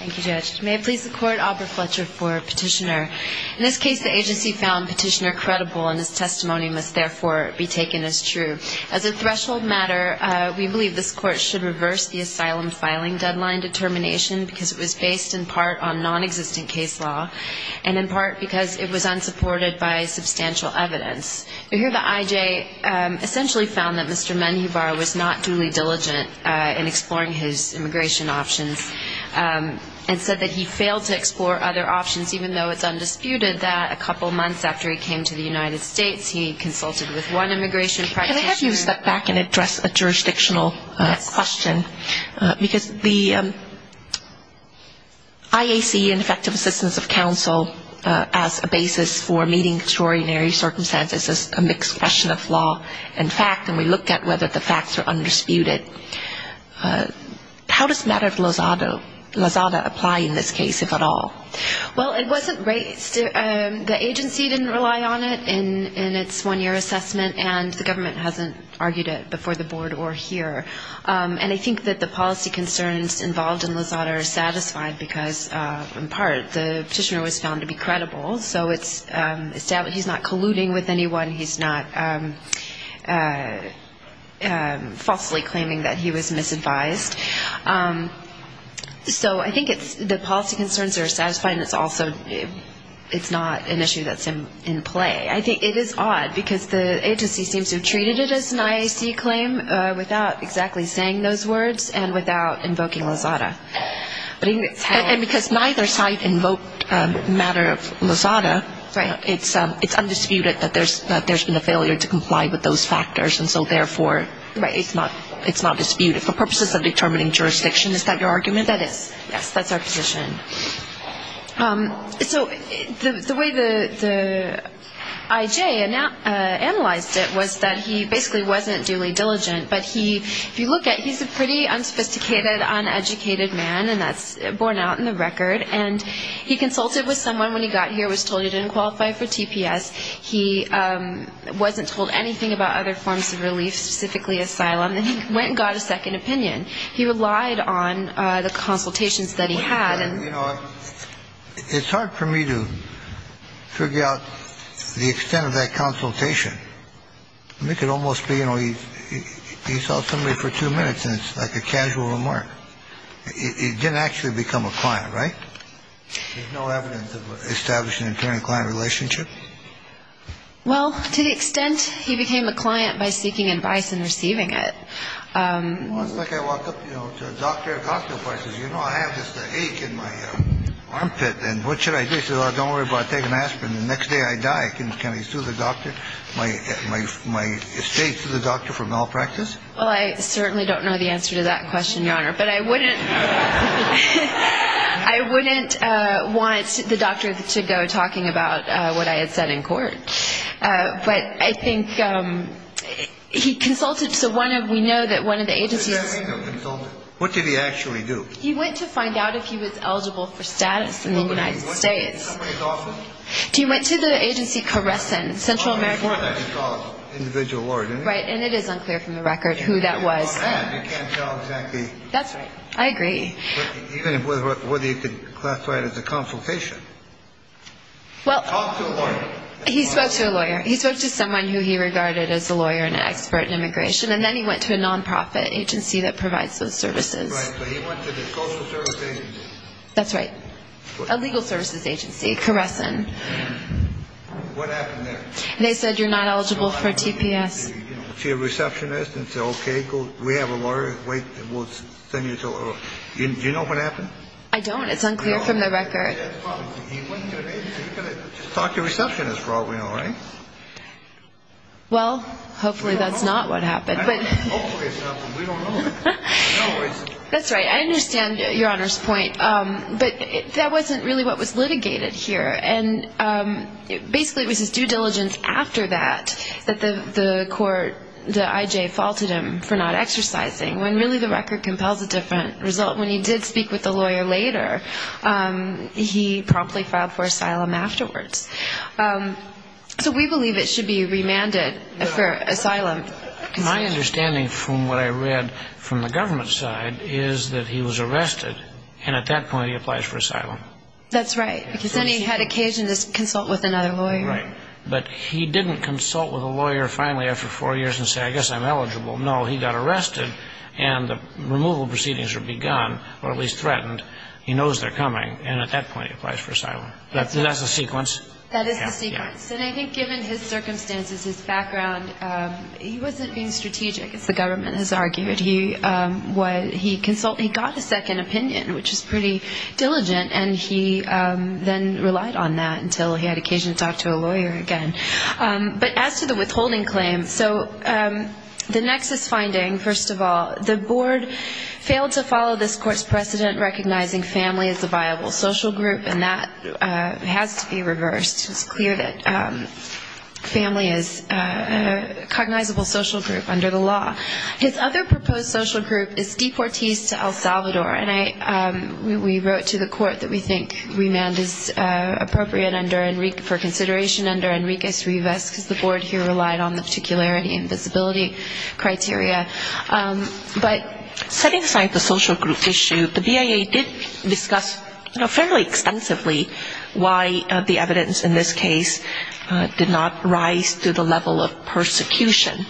Thank you, Judge. May it please the Court, Aubrey Fletcher for Petitioner. In this case, the agency found Petitioner credible and his testimony must therefore be taken as true. As a threshold matter, we believe this Court should reverse the asylum filing deadline determination because it was based in part on nonexistent case law and in part because it was unsupported by substantial evidence. We hear that I.J. essentially found that Mr. Menjivar-Melgar v. Petitioner, and said that he failed to explore other options even though it's undisputed that a couple of months after he came to the United States, he consulted with one immigration practitioner. Can I have you step back and address a jurisdictional question, because the IAC and effective assistance of counsel as a basis for meeting extraordinary circumstances is a mixed question of law and we looked at whether the facts were undisputed. How does the matter of Lozada apply in this case, if at all? Well, it wasn't raised. The agency didn't rely on it in its one-year assessment, and the government hasn't argued it before the Board or here. And I think that the policy concerns involved in Lozada are satisfied because, in part, the Petitioner was found to be credible, so he's not colluding with anyone, he's not falsely claiming that he was misadvised. So I think the policy concerns are satisfied and it's not an issue that's in play. I think it is odd because the agency seems to have treated it as an IAC claim without exactly saying those words and without invoking Lozada. And because neither side invoked the matter of Lozada, it's undisputed that there's been a failure to comply with those factors, and so therefore it's not disputed. For purposes of determining jurisdiction, is that your argument? That is. Yes, that's our position. So the way the IJ analyzed it was that he basically wasn't duly diligent, but he, if you will, was a dedicated man, and that's borne out in the record. And he consulted with someone when he got here, was told he didn't qualify for TPS. He wasn't told anything about other forms of relief, specifically asylum. And he went and got a second opinion. He relied on the consultations that he had. You know, it's hard for me to figure out the extent of that consultation. It could almost be, you know, he saw somebody for two minutes and it's like a casual remark. He didn't actually become a client, right? There's no evidence of establishing an internal client relationship. Well, to the extent he became a client by seeking advice and receiving it. Well, it's like I walk up to a doctor at a cocktail party and say, you know, I have this ache in my armpit, and what should I do? He says, well, don't worry about it. Take an estate to the doctor for malpractice? Well, I certainly don't know the answer to that question, Your Honor. But I wouldn't want the doctor to go talking about what I had said in court. But I think he consulted to one of, we know that one of the agencies. What did he actually do? He went to find out if he was eligible for status in the United States. Did he go to somebody's office? No. He went to the agency Caressin, Central American. Before that he called an individual lawyer, didn't he? Right, and it is unclear from the record who that was. You can't tell exactly. That's right. I agree. Even whether you could classify it as a consultation. Talk to a lawyer. He spoke to a lawyer. He spoke to someone who he regarded as a lawyer and an expert in immigration, and then he went to a non-profit agency that provides those services. Right, so he went to the social services agency. That's right. A legal services agency, Caressin. What happened there? They said you're not eligible for TPS. He went to a receptionist and said, okay, we have a lawyer. We'll send you to a lawyer. Do you know what happened? I don't. It's unclear from the record. He went to an agency. He could have talked to a receptionist for all we know, right? Well, hopefully that's not what happened. Hopefully it's not, but we don't know. That's right. I understand Your Honor's point, but that wasn't really what was litigated here. And basically it was his due diligence after that that the court, the IJ, faulted him for not exercising, when really the record compels a different result. When he did speak with the lawyer later, he promptly filed for asylum afterwards. So we believe it should be remanded for asylum. My understanding from what I read from the government side is that he was arrested, and at that point he applies for asylum. That's right, because then he had occasion to consult with another lawyer. Right. But he didn't consult with a lawyer finally after four years and say, I guess I'm eligible. No, he got arrested, and the removal proceedings were begun, or at least threatened. He knows they're coming, and at that point he applies for asylum. That's the sequence? That is the sequence. And I think given his circumstances, his background, he wasn't being strategic, as the government has argued. He got a second opinion, which is pretty diligent, and he then relied on that until he had occasion to talk to a lawyer again. But as to the withholding claim, so the nexus finding, first of all, the board failed to follow this court's precedent recognizing family as a viable social group, and that has to be reversed. It's clear that family is a cognizable social group under the law. His other proposed social group is deportees to El Salvador, and we wrote to the court that we think remand is appropriate for consideration under Enriquez-Rivas, because the board here relied on the particularity and visibility criteria. But setting aside the social group issue, the BIA did discuss, you know, fairly extensively why the evidence in this case did not rise to the level of persecution.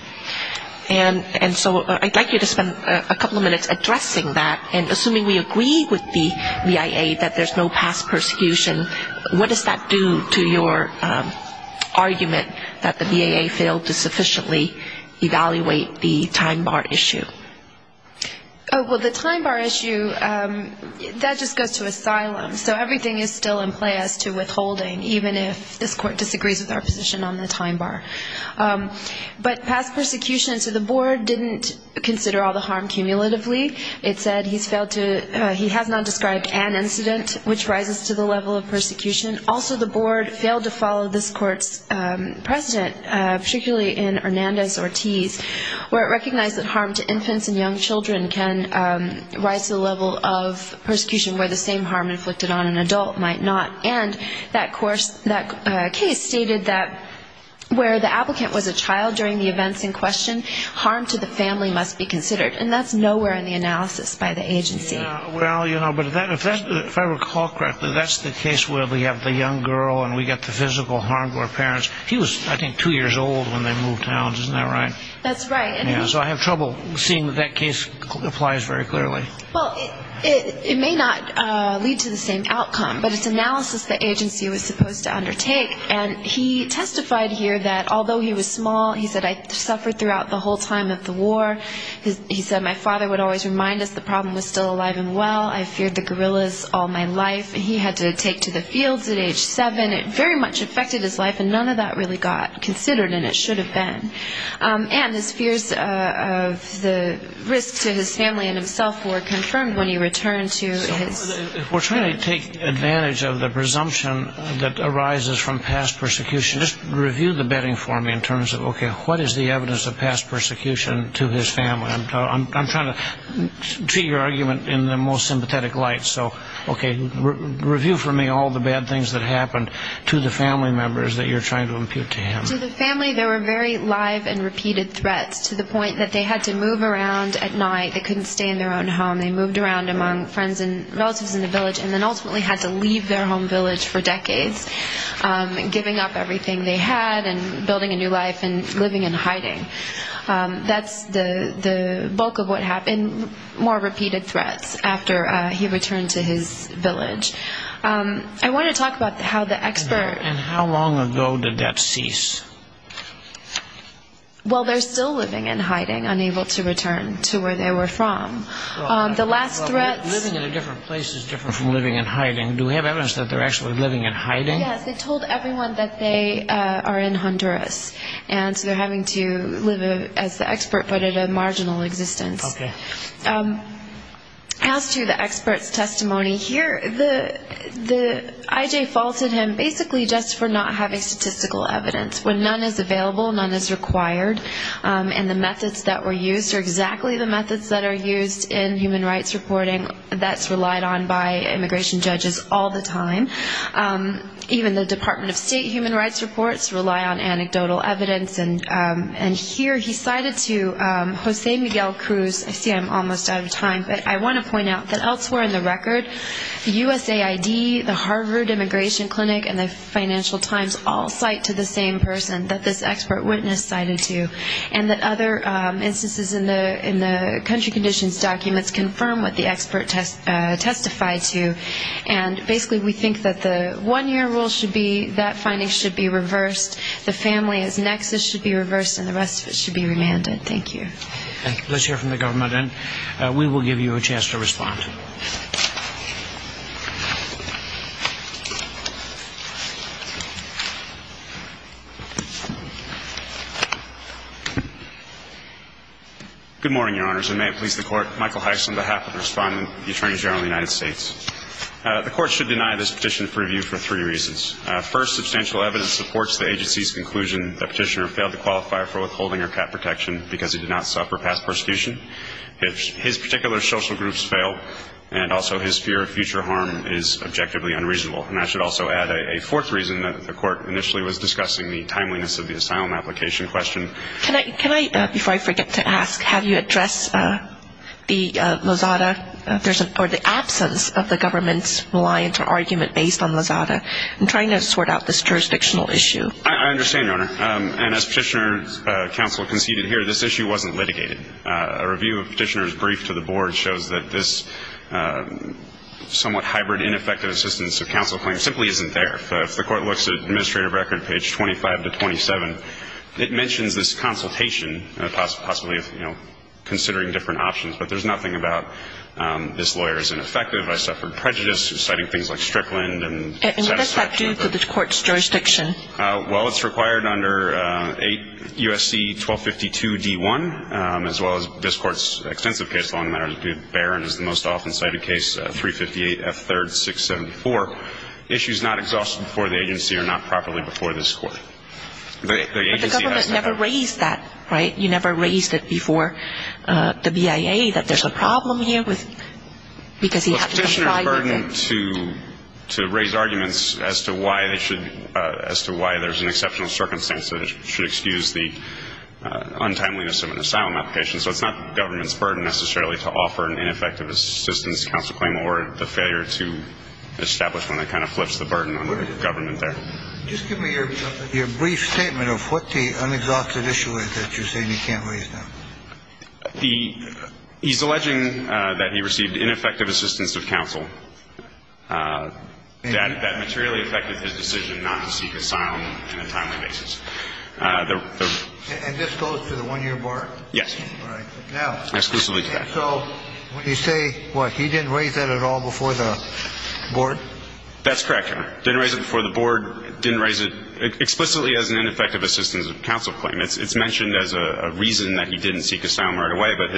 And so I'd like you to spend a couple of minutes addressing that and assuming we agree with the BIA that there's no past persecution, what does that do to your argument that the BIA failed to sufficiently evaluate the time bar issue? Well, the time bar issue, that just goes to asylum. So everything is still in play as to withholding, even if this court disagrees with our position on the time bar. But past persecution, so the board didn't consider all the harm cumulatively. It said he has not described an incident which rises to the level of persecution. Also, the board failed to follow this court's precedent, particularly in Hernandez-Ortiz, where it recognized that harm to infants and young children can rise to the level of persecution, where the same harm inflicted on an adult might not. And that case stated that where the applicant was a child during the events in question, harm to the family must be considered, and that's nowhere in the analysis by the agency. Well, you know, but if I recall correctly, that's the case where we have the young girl and we get the physical harm to her parents. He was, I think, two years old when they moved out, isn't that right? That's right. So I have trouble seeing that that case applies very clearly. Well, it may not lead to the same outcome, but it's analysis the agency was supposed to undertake. And he testified here that although he was small, he said, I suffered throughout the whole time of the war. He said my father would always remind us the problem was still alive and well. I feared the guerrillas all my life. He had to take to the fields at age seven. It very much affected his life, and none of that really got considered, and it should have been. And his fears of the risk to his family and himself were confirmed when he returned to his family. We're trying to take advantage of the presumption that arises from past persecution. Just review the bedding for me in terms of, okay, what is the evidence of past persecution to his family? I'm trying to treat your argument in the most sympathetic light. So, okay, review for me all the bad things that happened to the family members that you're trying to impute to him. To the family, there were very live and repeated threats to the point that they had to move around at night. They couldn't stay in their own home. They moved around among friends and relatives in the village and then ultimately had to leave their home village for decades, giving up everything they had and building a new life and living in hiding. That's the bulk of what happened, more repeated threats after he returned to his village. I want to talk about how the expert... And how long ago did that cease? Well, they're still living in hiding, unable to return to where they were from. The last threats... Living in a different place is different from living in hiding. Do we have evidence that they're actually living in hiding? Yes, they told everyone that they are in Honduras, and so they're having to live as the expert but in a marginal existence. Okay. As to the expert's testimony here, the IJ faulted him basically just for not having statistical evidence, when none is available, none is required, and the methods that were used are exactly the methods that are used in human rights reporting that's relied on by immigration judges all the time. Even the Department of State human rights reports rely on anecdotal evidence, and here he cited to Jose Miguel Cruz. I see I'm almost out of time, but I want to point out that elsewhere in the record, USAID, the Harvard Immigration Clinic, and the Financial Times all cite to the same person that this expert witness cited to, and that other instances in the country conditions documents confirm what the expert testified to, and basically we think that the one-year rule should be that finding should be reversed, the family's nexus should be reversed, and the rest of it should be remanded. Thank you. Let's hear from the government, and we will give you a chance to respond. Good morning, Your Honors, and may it please the Court, Michael Heiss on behalf of the Respondent, the Attorney General of the United States. The Court should deny this petition for review for three reasons. First, substantial evidence supports the agency's conclusion that Petitioner failed to qualify for withholding or cap protection because he did not suffer past prosecution. His particular social groups fail, and also his fear of future harm is objectively unreasonable. And I should also add a fourth reason that the Court initially was discussing, the timeliness of the asylum application question. Can I, before I forget to ask, have you addressed the Lozada, or the absence of the government's reliance or argument based on Lozada in trying to sort out this jurisdictional issue? I understand, Your Honor. And as Petitioner's counsel conceded here, this issue wasn't litigated. A review of Petitioner's brief to the Board shows that this somewhat hybrid, ineffective assistance of counsel claim simply isn't there. If the Court looks at Administrative Record, page 25 to 27, it mentions this consultation, and possibly, you know, considering different options. But there's nothing about this lawyer is ineffective, I suffered prejudice, citing things like Strickland. And what does that do to the Court's jurisdiction? Well, it's required under 8 U.S.C. 1252 D.1, as well as this Court's extensive case, Long Matters Barron is the most often cited case, 358 F. 3rd, 674. Issues not exhausted before the agency are not properly before this Court. But the government's never raised that, right? You never raised it before the BIA that there's a problem here because he had to comply with it. So it's important to raise arguments as to why there's an exceptional circumstance that should excuse the untimeliness of an asylum application. So it's not the government's burden necessarily to offer an ineffective assistance counsel claim or the failure to establish one that kind of flips the burden on the government there. Just give me your brief statement of what the unexhausted issue is that you're saying he can't raise now. He's alleging that he received ineffective assistance of counsel. That materially affected his decision not to seek asylum on a timely basis. And this goes to the one-year bar? Yes. All right. Now. Exclusively to that. So you say, what, he didn't raise that at all before the board? That's correct, Your Honor. Didn't raise it before the board. Didn't raise it explicitly as an ineffective assistance of counsel claim. It's mentioned as a reason that he didn't seek asylum right away, but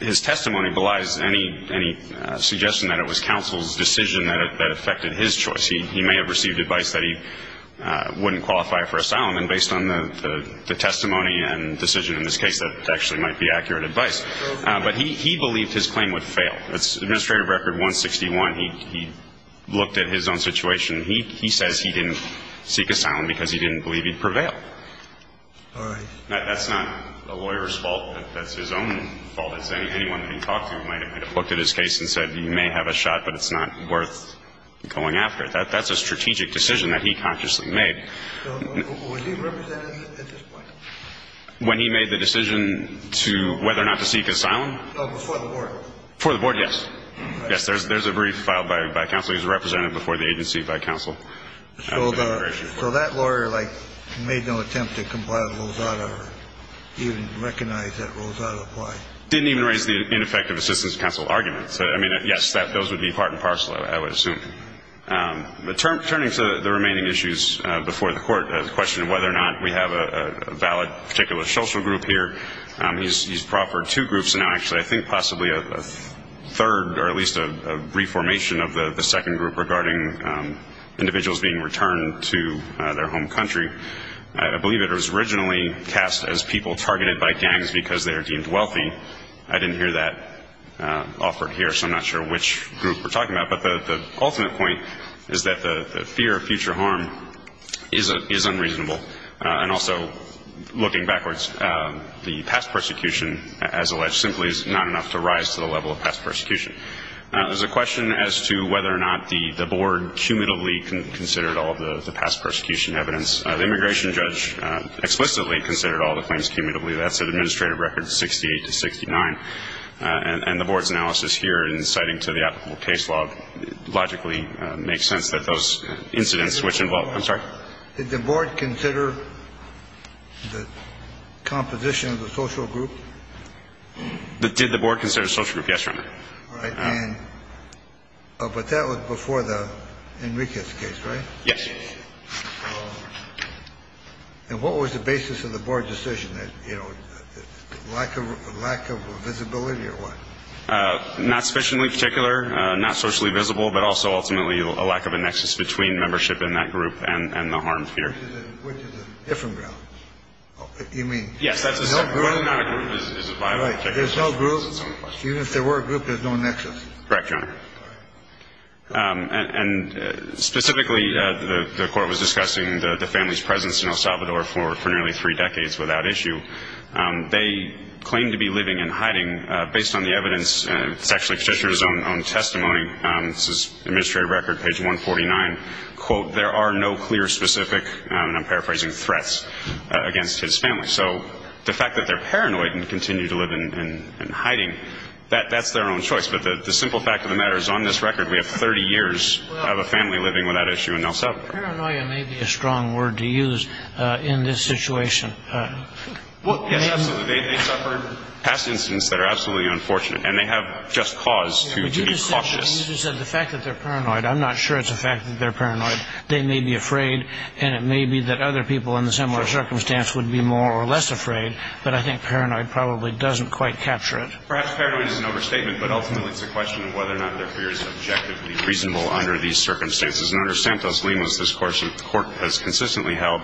his testimony belies any suggestion that it was counsel's decision that affected his choice. He may have received advice that he wouldn't qualify for asylum, and based on the testimony and decision in this case, that actually might be accurate advice. But he believed his claim would fail. It's Administrative Record 161. He looked at his own situation. He says he didn't seek asylum because he didn't believe he'd prevail. All right. Now, that's not a lawyer's fault. That's his own fault. It's anyone that he talked to might have looked at his case and said, you may have a shot, but it's not worth going after. That's a strategic decision that he consciously made. So was he represented at this point? When he made the decision to whether or not to seek asylum? Oh, before the board. Before the board, yes. Yes, there's a brief filed by counsel. He was represented before the agency by counsel. So that lawyer, like, made no attempt to comply with Rosado or even recognize that Rosado applied? Didn't even raise the ineffective assistance counsel argument. So, I mean, yes, those would be part and parcel, I would assume. But turning to the remaining issues before the court, the question of whether or not we have a valid particular social group here, he's proffered two groups now, actually. I think possibly a third or at least a reformation of the second group regarding individuals being returned to their home country. I believe it was originally cast as people targeted by gangs because they are deemed wealthy. I didn't hear that offered here, so I'm not sure which group we're talking about. But the ultimate point is that the fear of future harm is unreasonable. And also, looking backwards, the past persecution, as alleged, simply is not enough to rise to the level of past persecution. There's a question as to whether or not the board cumulatively considered all of the past persecution evidence. The immigration judge explicitly considered all the claims cumulatively. That's an administrative record 68 to 69. And the board's analysis here, inciting to the applicable case law, logically makes sense that those incidents which involve the board considered the composition of the social group. Did the board consider the social group? Yes, Your Honor. But that was before the Enriquez case, right? Yes. And what was the basis of the board decision? Lack of visibility or what? Not sufficiently particular, not socially visible, but also ultimately a lack of a nexus between membership in that group and the harm fear. Which is a different ground. You mean? Yes, that's the same. There's no group. Right. There's no group. Even if there were a group, there's no nexus. Correct, Your Honor. And specifically, the court was discussing the family's presence in El Salvador for nearly three decades without issue. They claimed to be living in hiding based on the evidence. It's actually Fischer's own testimony. This is administrative record, page 149. And, quote, there are no clear specific, and I'm paraphrasing, threats against his family. So the fact that they're paranoid and continue to live in hiding, that's their own choice. But the simple fact of the matter is on this record we have 30 years of a family living without issue in El Salvador. Paranoia may be a strong word to use in this situation. Yes, absolutely. They've suffered past incidents that are absolutely unfortunate, and they have just cause to be cautious. Well, you just said the fact that they're paranoid. I'm not sure it's a fact that they're paranoid. They may be afraid, and it may be that other people in a similar circumstance would be more or less afraid. But I think paranoid probably doesn't quite capture it. Perhaps paranoid is an overstatement, but ultimately it's a question of whether or not their fear is objectively reasonable under these circumstances. And under Santos-Limos, this Court has consistently held,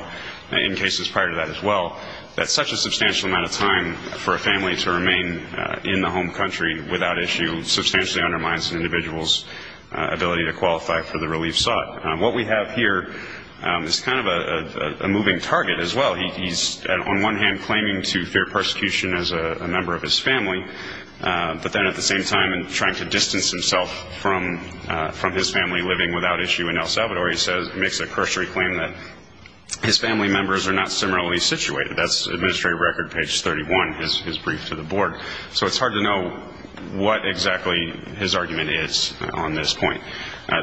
in cases prior to that as well, that such a substantial amount of time for a family to remain in the home country without issue substantially undermines an individual's ability to qualify for the relief sought. What we have here is kind of a moving target as well. He's on one hand claiming to fear persecution as a member of his family, but then at the same time trying to distance himself from his family living without issue in El Salvador. He makes a cursory claim that his family members are not similarly situated. That's Administrative Record, page 31, his brief to the Board. So it's hard to know what exactly his argument is on this point.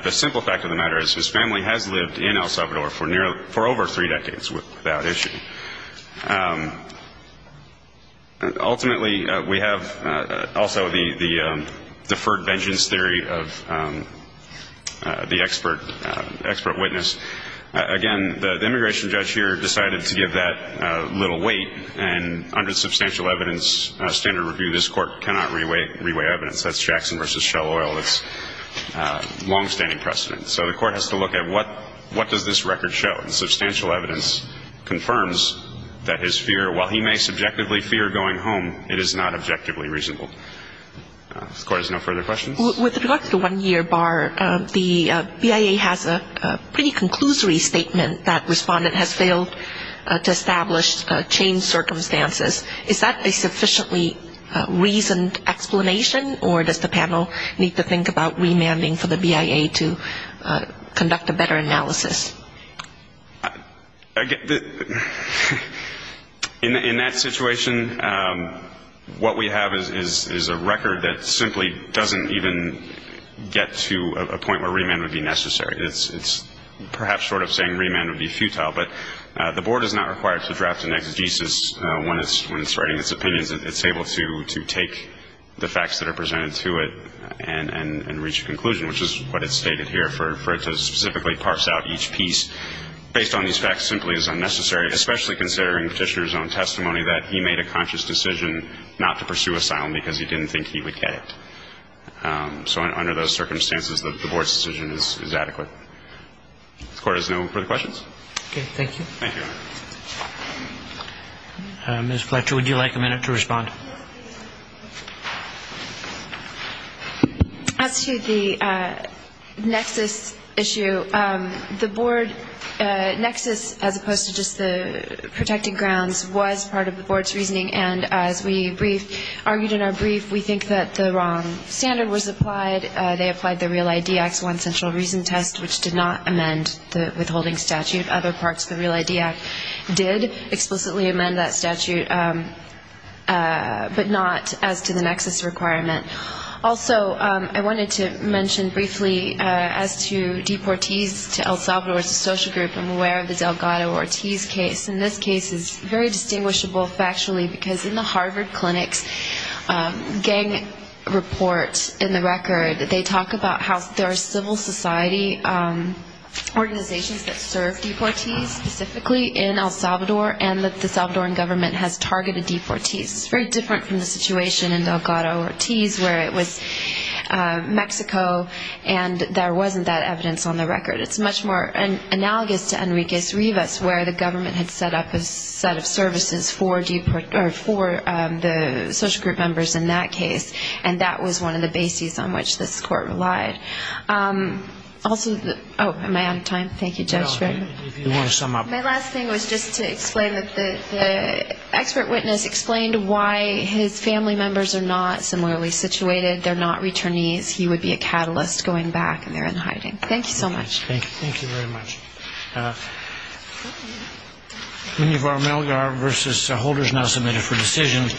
The simple fact of the matter is his family has lived in El Salvador for over three decades without issue. Ultimately, we have also the deferred vengeance theory of the expert witness. Again, the immigration judge here decided to give that little weight, and under substantial evidence standard review, this Court cannot reweigh evidence. That's Jackson v. Shell Oil. That's longstanding precedent. So the Court has to look at what does this record show? While he may subjectively fear going home, it is not objectively reasonable. This Court has no further questions. With regard to the one-year bar, the BIA has a pretty conclusory statement that respondent has failed to establish change circumstances. Is that a sufficiently reasoned explanation, or does the panel need to think about remanding for the BIA to conduct a better analysis? In that situation, what we have is a record that simply doesn't even get to a point where remand would be necessary. It's perhaps sort of saying remand would be futile, but the Board is not required to draft an exegesis when it's writing its opinions. It's able to take the facts that are presented to it and reach a conclusion, which is what is stated here, for it to specifically parse out each piece. Based on these facts simply is unnecessary, especially considering Petitioner's own testimony that he made a conscious decision not to pursue asylum because he didn't think he would get it. So under those circumstances, the Board's decision is adequate. The Court has no further questions. Okay, thank you. Thank you. Ms. Fletcher, would you like a minute to respond? Yes, please. As to the nexus issue, the Board nexus, as opposed to just the protected grounds, was part of the Board's reasoning. And as we argued in our brief, we think that the wrong standard was applied. They applied the REAL-ID Act's one central reason test, which did not amend the withholding statute. Other parts of the REAL-ID Act did explicitly amend that statute, but not as to the nexus requirement. Also, I wanted to mention briefly as to deportees to El Salvador. It's a social group. I'm aware of the Delgado-Ortiz case. And this case is very distinguishable factually because in the Harvard Clinic's gang report in the record, they talk about how there are civil society organizations that serve deportees specifically in El Salvador, and that the Salvadoran government has targeted deportees. It's very different from the situation in Delgado-Ortiz, where it was Mexico, and there wasn't that evidence on the record. It's much more analogous to Enrique Rivas, where the government had set up a set of services for the social group members in that case. And that was one of the bases on which this court relied. Also, oh, am I out of time? Thank you, Judge. My last thing was just to explain that the expert witness explained why his family members are not similarly situated. They're not returnees. He would be a catalyst going back and they're in hiding. Thank you so much. Thank you very much. Many of our mail guard versus holders now submitted for decision.